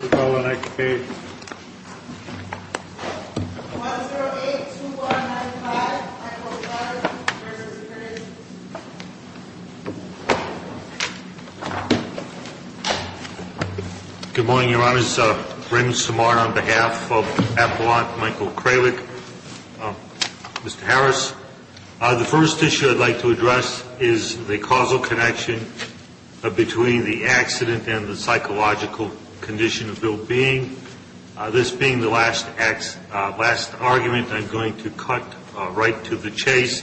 Good morning, Your Honors. Brendan Simard on behalf of Appellant Michael Kralik, Mr. Harris. The first issue I'd like to address is the causal connection between the accident and the psychological condition of ill-being. This being the last argument, I'm going to cut right to the chase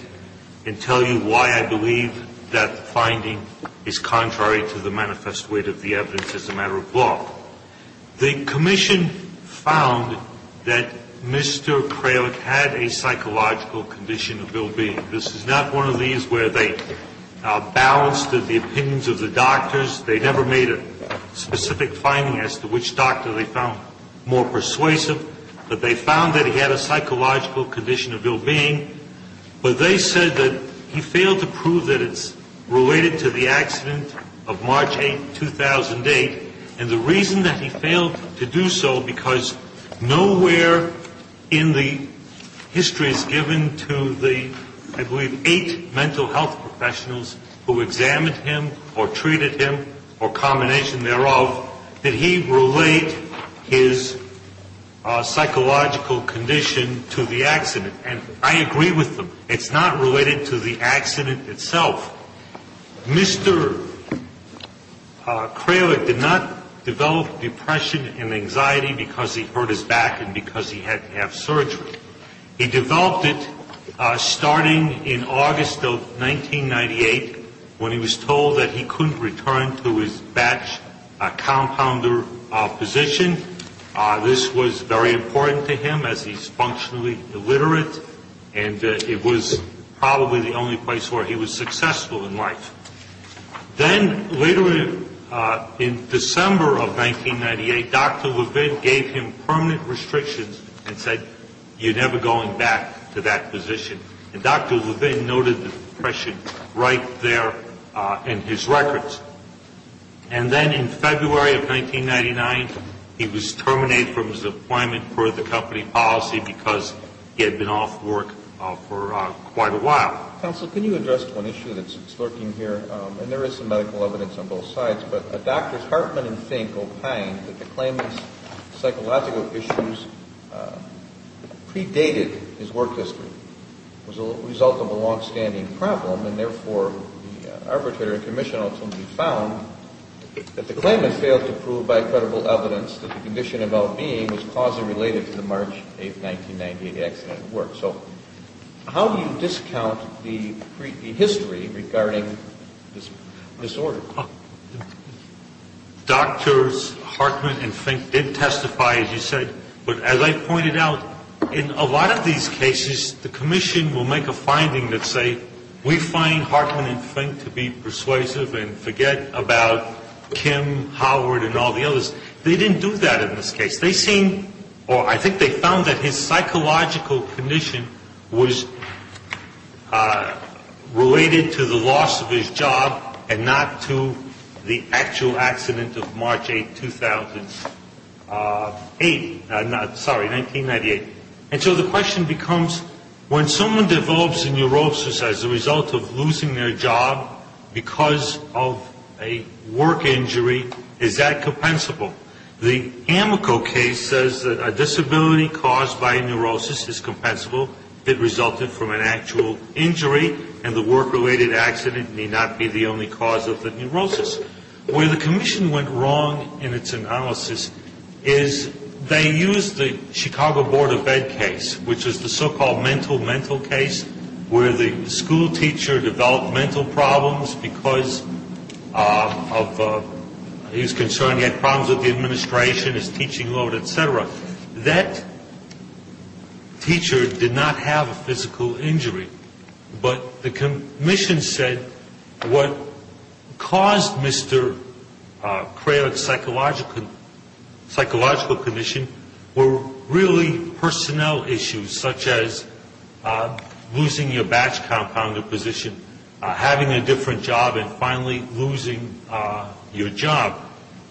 and tell you why I believe that the finding is contrary to the manifest weight of the evidence as a matter of law. The Commission found that Mr. Kralik had a psychological condition of ill-being. This is not one of these where they balanced the opinions of the doctors. They never made a specific finding as to which doctor they found more persuasive. But they found that he had a psychological condition of ill-being. But they said that he failed to prove that it's related to the accident of March 8, 2008. And the reason that he failed to do so, because nowhere in the histories given to the, I believe, eight mental health professionals who examined him or treated him or combination thereof, did he relate his psychological condition to the accident. And I agree with them. It's not related to the accident itself. Mr. Kralik did not develop depression and anxiety because he hurt his back and because he had to have surgery. He developed it starting in August of 1998 when he was told that he couldn't return to his batch compounder position. This was very important to him as he's successful in life. Then later in December of 1998, Dr. Levin gave him permanent restrictions and said, you're never going back to that position. And Dr. Levin noted depression right there in his records. And then in February of 1999, he was terminated from his appointment for the company policy because he had been off work for quite a while. Counsel, can you address one issue that's lurking here? And there is some medical evidence on both sides. But Drs. Hartman and Fink opine that the claimant's psychological issues predated his work history. It was a result of a longstanding problem. And therefore, the arbitrary commission ultimately found that the claimant failed to prove by credible evidence that the condition of well-being was causally related to the March 8, 1998 accident at work. So how do you discount the history regarding this disorder? Drs. Hartman and Fink did testify, as you said. But as I pointed out, in a lot of these cases, the commission will make a finding that say, we find Hartman and Fink to be persuasive and forget about Kim, Howard, and all the others. They didn't do that in this case. I think they found that his psychological condition was related to the loss of his job and not to the actual accident of March 8, 1998. And so the question becomes, when someone develops a neurosis as a result of losing their job because of a work injury, is that a disability caused by a neurosis is compensable if it resulted from an actual injury, and the work-related accident may not be the only cause of the neurosis? Where the commission went wrong in its analysis is they used the Chicago Board of Ed case, which is the so-called mental-mental case, where the school teacher developed mental problems because of he was concerned he had problems with the administration, his teaching load, et cetera. That teacher did not have a physical injury, but the commission said what caused Mr. Craylick's psychological condition were really personnel issues, such as losing your position, having a different job, and finally losing your job.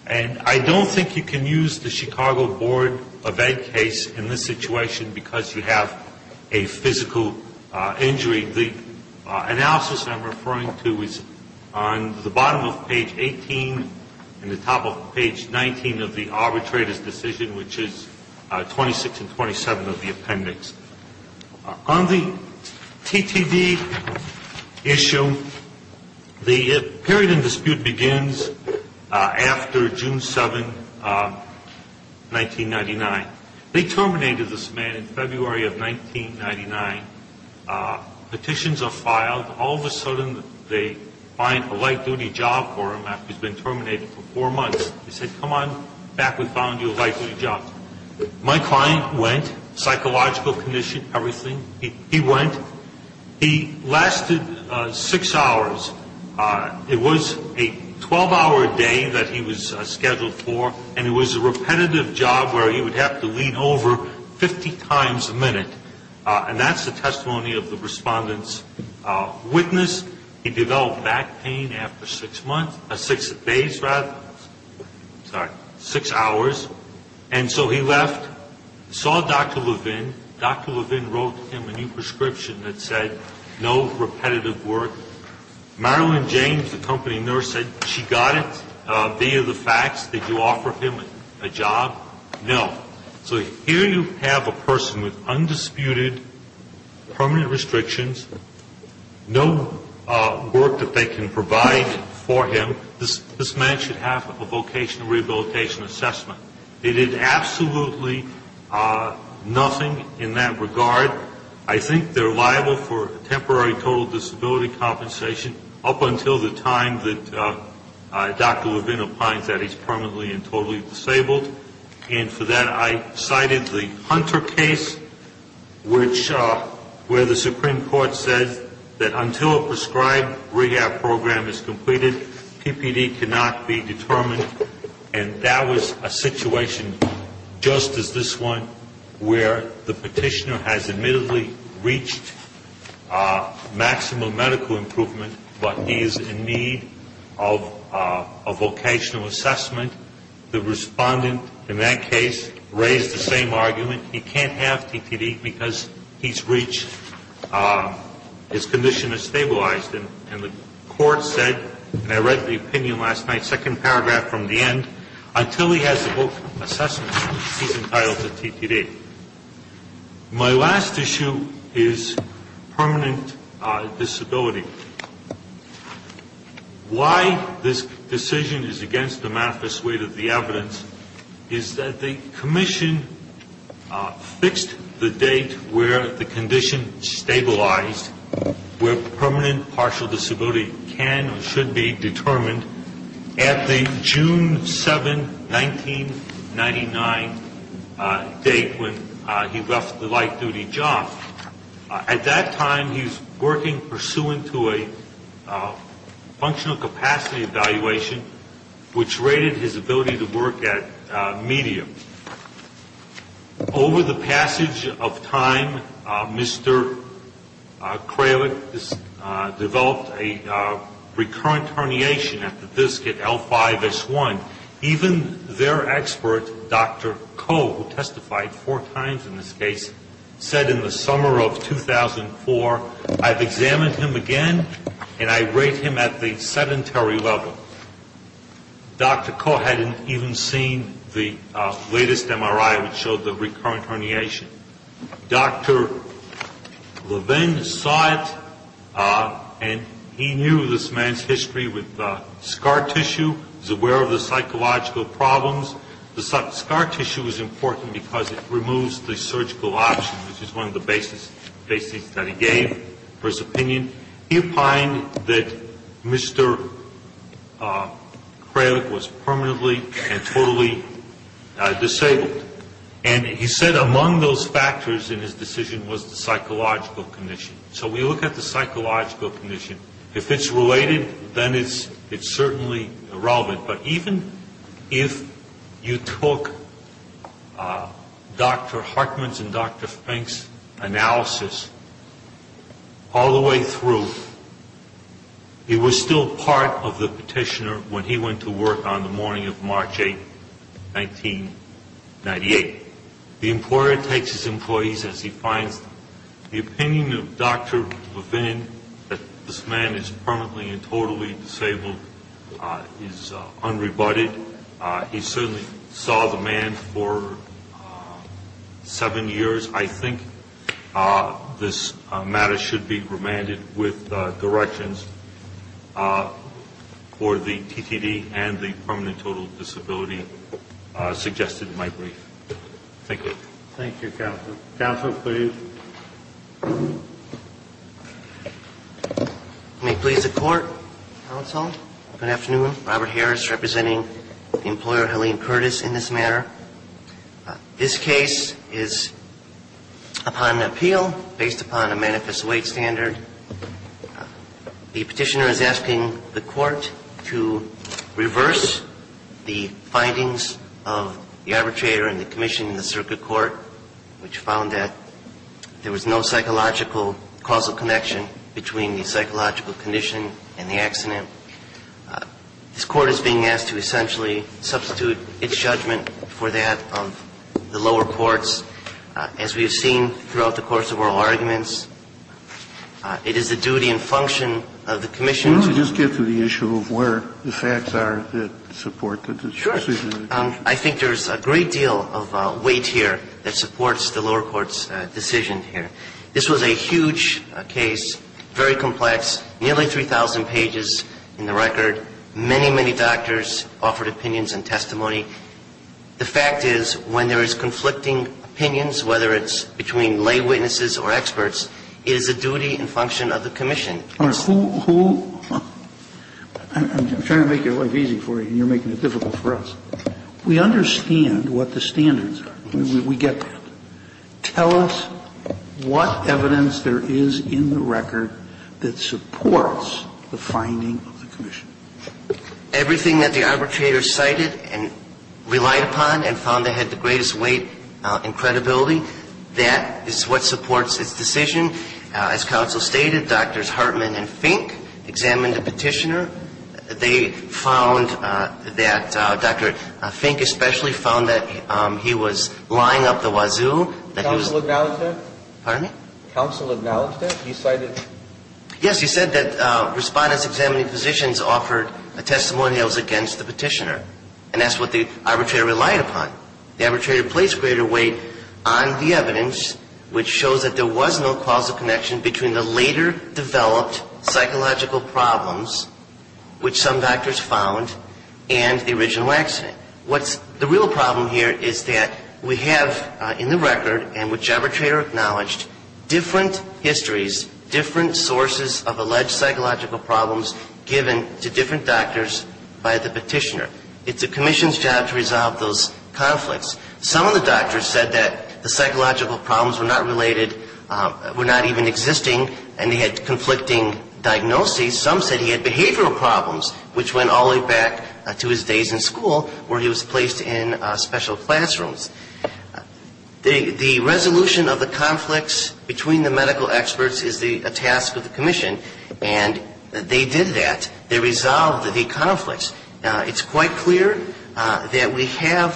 And I don't think you can use the Chicago Board of Ed case in this situation because you have a physical injury. The analysis I'm referring to is on the bottom of page 18 and the top of page 19 of the arbitrator's decision, which is 26 and 27 of the appendix. On the TTV issue, the period of dispute begins after June 7, 1999. They terminated this man in February of 1999. Petitions are filed. All of a sudden they find a light-duty job for him after he's been terminated for four months. They said, come on back, we found you a light-duty job. My client went, psychological condition, everything. He went. He lasted six hours. It was a 12-hour day that he was scheduled for, and it was a repetitive job where he would have to lean over 50 times a minute. And that's the testimony of the respondent's witness. He developed back pain after six days rather, sorry, six hours. And so he left, saw Dr. Levin. Dr. Levin wrote him a new prescription that said no repetitive work. Marilyn James, the company nurse, said she got it via the facts. Did you offer him a job? No. So here you have a person with undisputed permanent restrictions, no work that they can provide for him. This man should have a vocational rehabilitation assessment. They did absolutely nothing in that regard. I think they're liable for temporary total disability compensation up until the time that Dr. Levin opines that he's permanently and totally disabled. And for that I cited the Hunter case, which where the Supreme Court said that until a prescribed rehab program is completed, PPD cannot be determined. And that was a situation just as this one where the petitioner has admittedly reached maximum medical improvement, but he is in need of a vocational assessment. The respondent in that case raised the same argument. He can't have PPD because he's reached, his condition has stabilized. And the court said, and I read the opinion last night, second paragraph from the end, until he has a vocational assessment, he's entitled to PPD. My last issue is permanent disability. Why this decision is against the MAFIS weight of the evidence is that the commission fixed the date where the condition stabilized, where permanent partial disability can or should be determined at the June 7, 1999 date when he left the light-duty job. At that time he's working pursuant to a Over the passage of time, Mr. Kralik developed a recurrent herniation at the disc at L5-S1. Even their expert, Dr. Koh, who testified four times in this case, said in the summer of 2004, I've examined him again and I rate him at the recurrent herniation. Dr. Levin saw it and he knew this man's history with scar tissue, was aware of the psychological problems. The scar tissue is important because it removes the surgical option, which is one of the basics that he gave for opinion. He opined that Mr. Kralik was permanently and totally disabled. And he said among those factors in his decision was the psychological condition. So we look at the psychological condition. If it's related, then it's certainly relevant. But even if you took Dr. Hartman's and Dr. Fink's analysis all the way through, it was still part of the petitioner when he went to work on the morning of March 8, 1998. The employer takes his employees as he finds them. The opinion of Dr. Kralik that he's permanently disabled is unrebutted. He certainly saw the man for seven years, I think. This matter should be remanded with directions for the TTD and the permanent total disability suggested in my brief. Thank you. Thank you, counsel. Counsel, please. May it please the court, counsel, good afternoon. Robert Harris representing the employer Helene Curtis in this matter. This case is upon appeal based upon a manifest weight standard. The petitioner is asking the court to reverse the findings of the arbitrator and the commission in the circuit court, which found that there was no psychological causal connection between the psychological condition and the accident. This court is being asked to essentially substitute its judgment for that of the lower courts. As we have seen throughout the course of our arguments, it is the duty and function of the commission to Let me just get to the issue of where the facts are that support the decision. I think there's a great deal of weight here that supports the lower court's decision here. This was a huge case, very complex, nearly 3,000 pages in the record. Many, many doctors offered opinions and testimony. The fact is when there is conflicting opinions, whether it's between lay witnesses or experts, it is the duty and function of the commission. I'm trying to make your life easy for you, and you're making it difficult for us. We understand what the standards are. We get that. Tell us what evidence there is in the record that supports the finding of the commission. Everything that the arbitrator cited and relied upon and found that had the greatest weight and credibility, that is what supports his decision. As counsel stated, Drs. Hartman and Fink examined the petitioner. They found that Dr. Fink especially found that he was lying up the wazoo, that he was Counsel acknowledged that? Pardon me? Counsel acknowledged that? He cited Yes, he said that respondents examining physicians offered a testimony that was against the petitioner, and that's what the arbitrator relied upon. The arbitrator placed greater weight on the evidence, which shows that there was no causal connection between the later developed psychological problems, which some doctors found, and the original accident. What's the real problem here is that we have in the record, and which arbitrator acknowledged, different histories, different sources of alleged psychological problems given to different doctors by the petitioner. It's a commission's job to resolve those conflicts. Some of the doctors said that the psychological problems were not related, were not even existing, and they had conflicting diagnoses. Some said he had behavioral problems, which went all the way back to his days in school, where he was placed in special classrooms. The resolution of the conflicts between the medical experts is the task of the commission, and they did that. They resolved the conflicts. It's quite clear that we have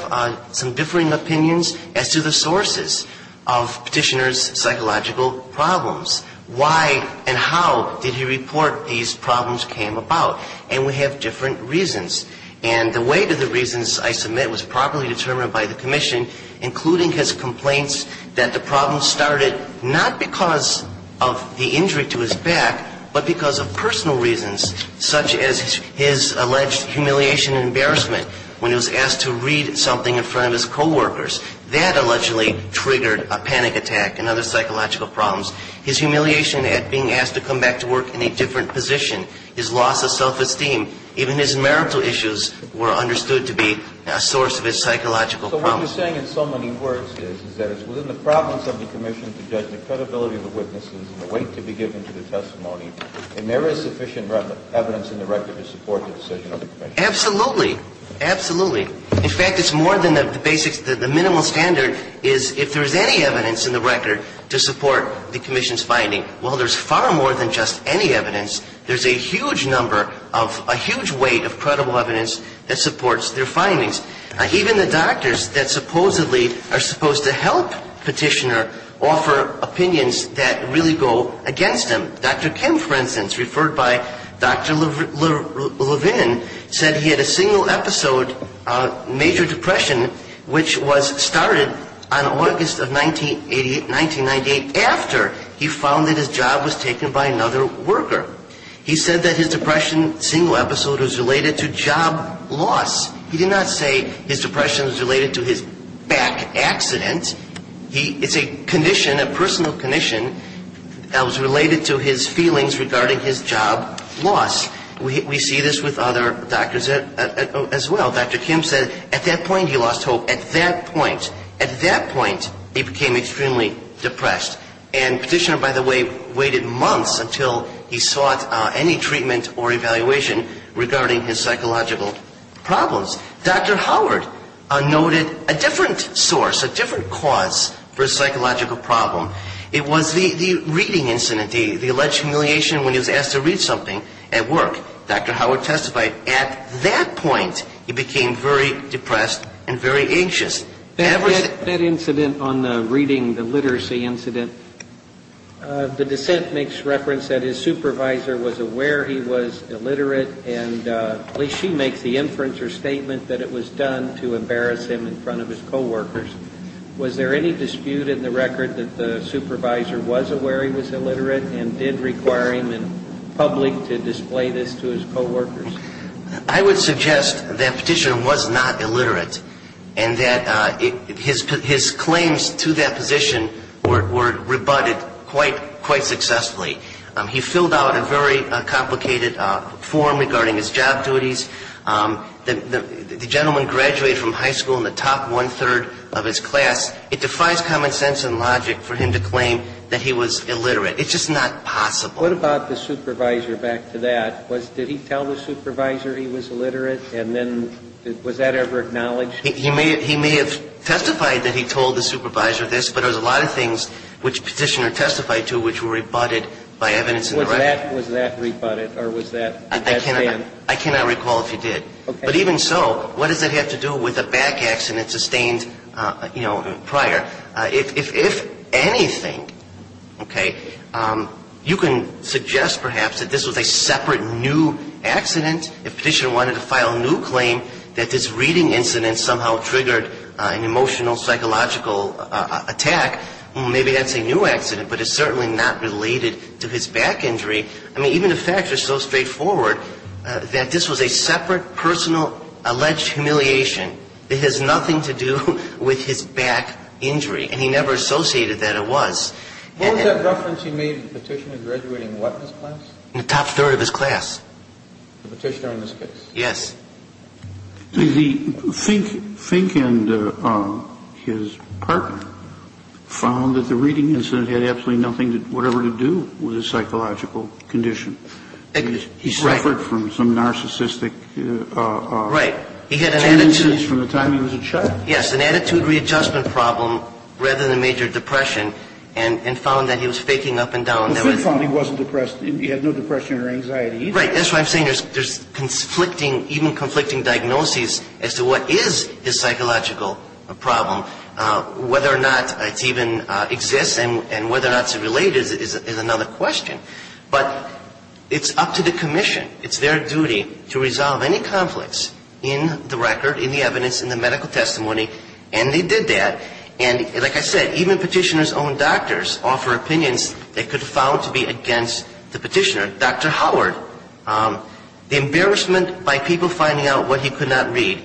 some differing opinions as to the sources of petitioner's psychological problems. Why and how did he report these problems came about? And we have different reasons. And the weight of the reasons I submit was properly determined by the commission, including his complaints that the problems started not because of the injury to his back, but because of personal reasons, such as his alleged humiliation and embarrassment when he was asked to read something in front of his coworkers. That allegedly triggered a panic attack and other psychological problems. His humiliation at being asked to come back to work in a different position, his loss of self-esteem, even his marital issues were understood to be a source of his psychological problems. So what you're saying in so many words is, is that it's within the province of the commission to judge the credibility of the witnesses and the weight to be given to the testimony, and there is sufficient evidence in the record to support the decision of the commission. Absolutely. Absolutely. In fact, it's more than the basics. The minimal standard is if there is any evidence in the record to support the commission's finding, well, there's far more than just any evidence. There's a huge number of a huge weight of credible evidence that supports their findings. Even the doctors that supposedly are supposed to help petitioner offer opinions that really go against them. Dr. Kim, for instance, referred by Dr. Levin, said he had a single episode of major depression, which was started on August of 1988, 1998, after he found that his job was taken by another worker. He said that his depression single episode was related to job loss. He did not say his depression was related to his back accident. It's a condition, a personal condition that was related to his feelings regarding his job loss. We see this with other doctors as well. Dr. Kim said at that point he lost hope. At that point, at that point, he became extremely depressed. And petitioner, by the way, waited months until he sought any treatment or evaluation regarding his psychological problems. Dr. Howard noted a different source, a different cause for a psychological problem. It was the reading incident, the alleged humiliation when he was asked to read something at work. Dr. Howard testified at that point he became very depressed and very anxious. That incident on the reading, the literacy incident, the dissent makes reference that his supervisor was aware he was illiterate, and at least she makes the inference or statement that it was done to embarrass him in front of his coworkers. Was there any dispute in the record that the supervisor was aware he was illiterate and did require him in public to display this to his coworkers? I would suggest that petitioner was not illiterate and that his claims to that position were rebutted quite successfully. He filled out a very complicated form regarding his job duties. The gentleman graduated from high school in the top one-third of his class. It defies common sense and logic for him to claim that he was illiterate. It's just not possible. What about the supervisor back to that? Did he tell the supervisor he was illiterate? And then was that ever acknowledged? He may have testified that he told the supervisor this, but there's a lot of things which petitioner testified to which were rebutted by evidence in the record. Was that rebutted or was that banned? I cannot recall if he did. But even so, what does it have to do with a back accident sustained, you know, prior? If anything, okay, you can suggest perhaps that this was a separate new accident. If petitioner wanted to file a new claim that this reading incident somehow triggered an emotional, psychological attack, maybe that's a new accident. But it's certainly not related to his back injury. I mean, even the facts are so straightforward that this was a separate, personal, alleged humiliation. It has nothing to do with his back injury. And he never associated that it was. What was that reference he made to the petitioner graduating what in his class? In the top third of his class. The petitioner in this case? Yes. The Fink and his partner found that the reading incident had absolutely nothing that whatever to do with his psychological condition. He suffered from some narcissistic. Right. He had an attitude. From the time he was a child. Yes. An attitude readjustment problem rather than major depression and found that he was faking up and down. The Fink found he wasn't depressed. He had no depression or anxiety either. Right. That's why I'm saying there's conflicting, even conflicting diagnoses as to what is his psychological problem. Whether or not it even exists and whether or not it's related is another question. But it's up to the commission. It's their duty to resolve any conflicts in the record, in the evidence, in the medical testimony. And they did that. And like I said, even petitioner's own doctors offer opinions they could have found to be against the petitioner. Dr. Howard, the embarrassment by people finding out what he could not read,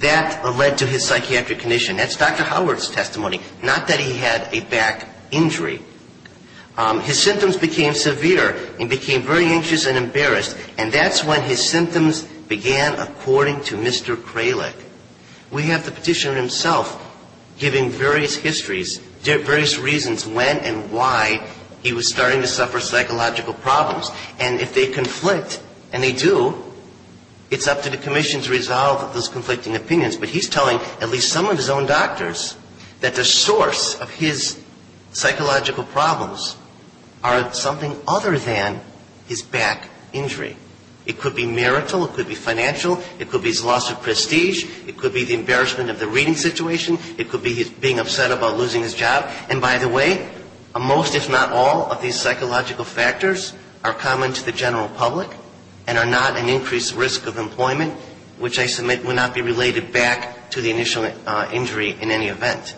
that led to his psychiatric condition. That's Dr. Howard's testimony. Not that he had a back injury. His symptoms became severe and became very anxious and embarrassed. And that's when his symptoms began, according to Mr. Kralik. We have the petitioner himself giving various histories, various reasons when and why he was starting to suffer psychological problems. And if they conflict, and they do, it's up to the commission to resolve those conflicting opinions. But he's telling at least some of his own doctors that the source of his psychological problems are something other than his back injury. It could be marital. It could be financial. It could be his loss of prestige. It could be the embarrassment of the reading situation. It could be his being upset about losing his job. And by the way, most if not all of these psychological factors are common to the general public and are not an increased risk of employment, which I submit would not be related back to the initial injury in any event.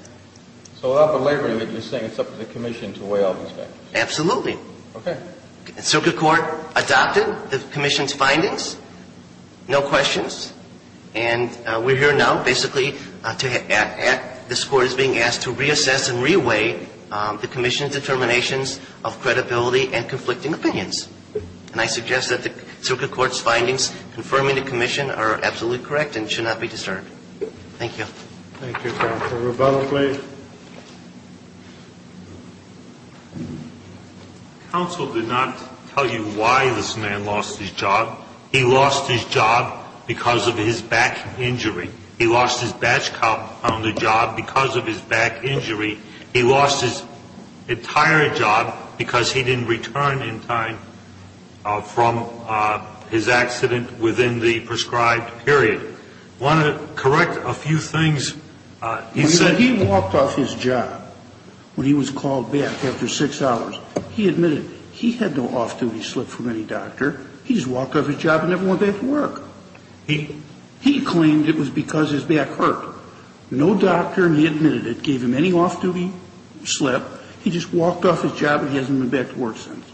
So without belaboring it, you're saying it's up to the commission to weigh all these factors? Absolutely. Okay. Circuit court adopted the commission's findings. No questions. And we're here now basically to act. This court is being asked to reassess and re-weigh the commission's determinations of credibility and conflicting opinions. And I suggest that the circuit court's findings confirming the commission are absolutely correct and should not be disturbed. Thank you. Thank you, Counsel. Rebella, please. Counsel did not tell you why this man lost his job. He lost his job because of his back injury. He lost his badge count on the job because of his back injury. He lost his entire job because he didn't return in time from his accident within the prescribed period. I want to correct a few things. He said he walked off his job when he was called back after six hours. He admitted he had no off-duty slip from any doctor. He just walked off his job and never went back to work. He claimed it was because his back hurt. No doctor, and he admitted it, gave him any off-duty slip. He just walked off his job and he hasn't been back to work since.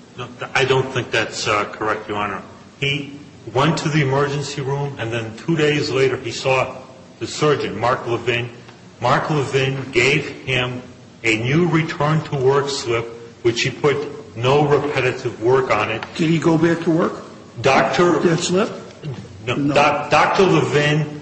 I don't think that's correct, Your Honor. He went to the emergency room and then two days later he saw the surgeon, Mark Levin. Mark Levin gave him a new return-to-work slip, which he put no repetitive work on it. Did he go back to work with that slip? Dr. Levin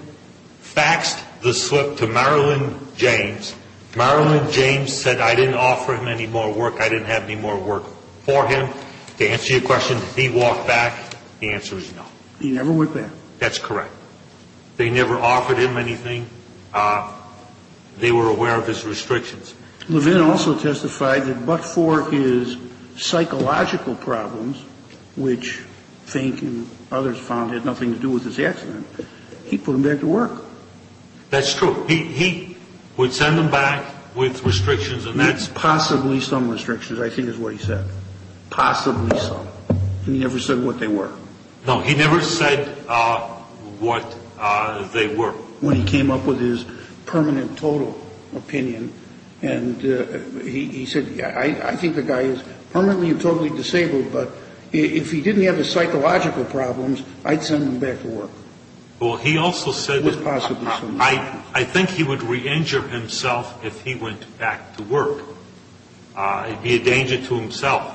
faxed the slip to Marilyn James. Marilyn James said, I didn't offer him any more work, I didn't have any more work for him. To answer your question, he walked back. The answer is no. He never went back. That's correct. They never offered him anything. They were aware of his restrictions. Levin also testified that but for his psychological problems, which Fink and others found had nothing to do with his accident, he put him back to work. That's true. He would send them back with restrictions. Possibly some restrictions, I think is what he said. Possibly some. He never said what they were. No, he never said what they were. When he came up with his permanent total opinion, and he said, I think the guy is permanently and totally disabled, but if he didn't have his psychological problems, I'd send him back to work. Well, he also said that I think he would re-injure himself if he went back to work. It would be a danger to himself.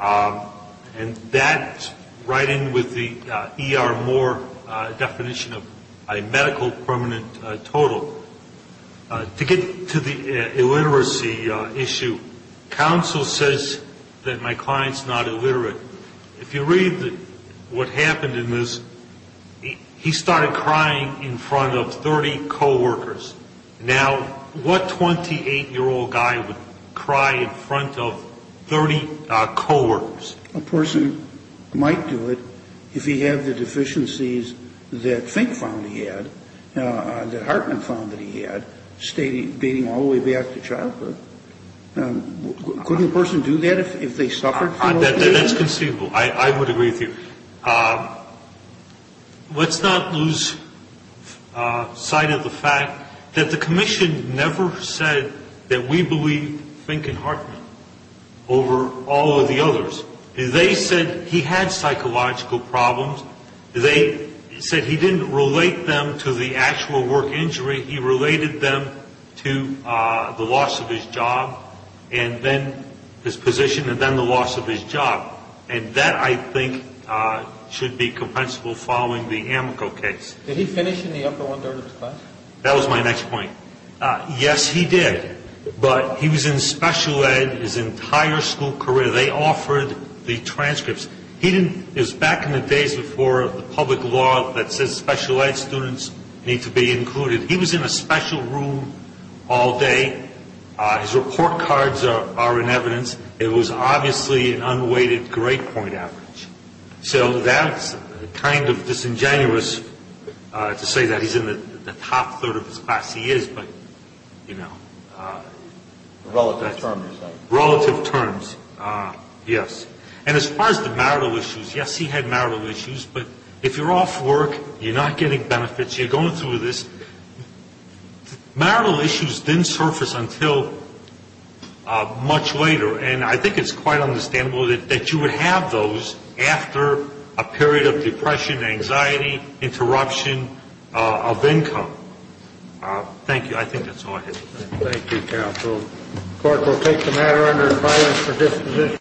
And that's right in with the E.R. Moore definition of a medical permanent total. To get to the illiteracy issue, counsel says that my client is not illiterate. If you read what happened in this, he started crying in front of 30 coworkers. Now, what 28-year-old guy would cry in front of 30 coworkers? A person might do it if he had the deficiencies that Fink found he had, that Hartman found that he had, beating him all the way back to childhood. Couldn't a person do that if they suffered? That's conceivable. I would agree with you. Let's not lose sight of the fact that the commission never said that we believe Fink and Hartman over all of the others. They said he had psychological problems. They said he didn't relate them to the actual work injury. He related them to the loss of his job and then his position and then the loss of his job. And that, I think, should be compensable following the Amico case. Did he finish in the upper one-third of the class? That was my next point. Yes, he did. But he was in special ed his entire school career. They offered the transcripts. It was back in the days before the public law that says special ed students need to be included. He was in a special room all day. His report cards are in evidence. It was obviously an unweighted grade point average. So that's kind of disingenuous to say that he's in the top third of his class. He is, but, you know. Relative terms. Relative terms, yes. And as far as the marital issues, yes, he had marital issues. But if you're off work, you're not getting benefits, you're going through this. Marital issues didn't surface until much later, and I think it's quite understandable that you would have those after a period of depression, anxiety, interruption of income. Thank you. I think that's all I have to say. Thank you, counsel. The court will take the matter under advice for disposition.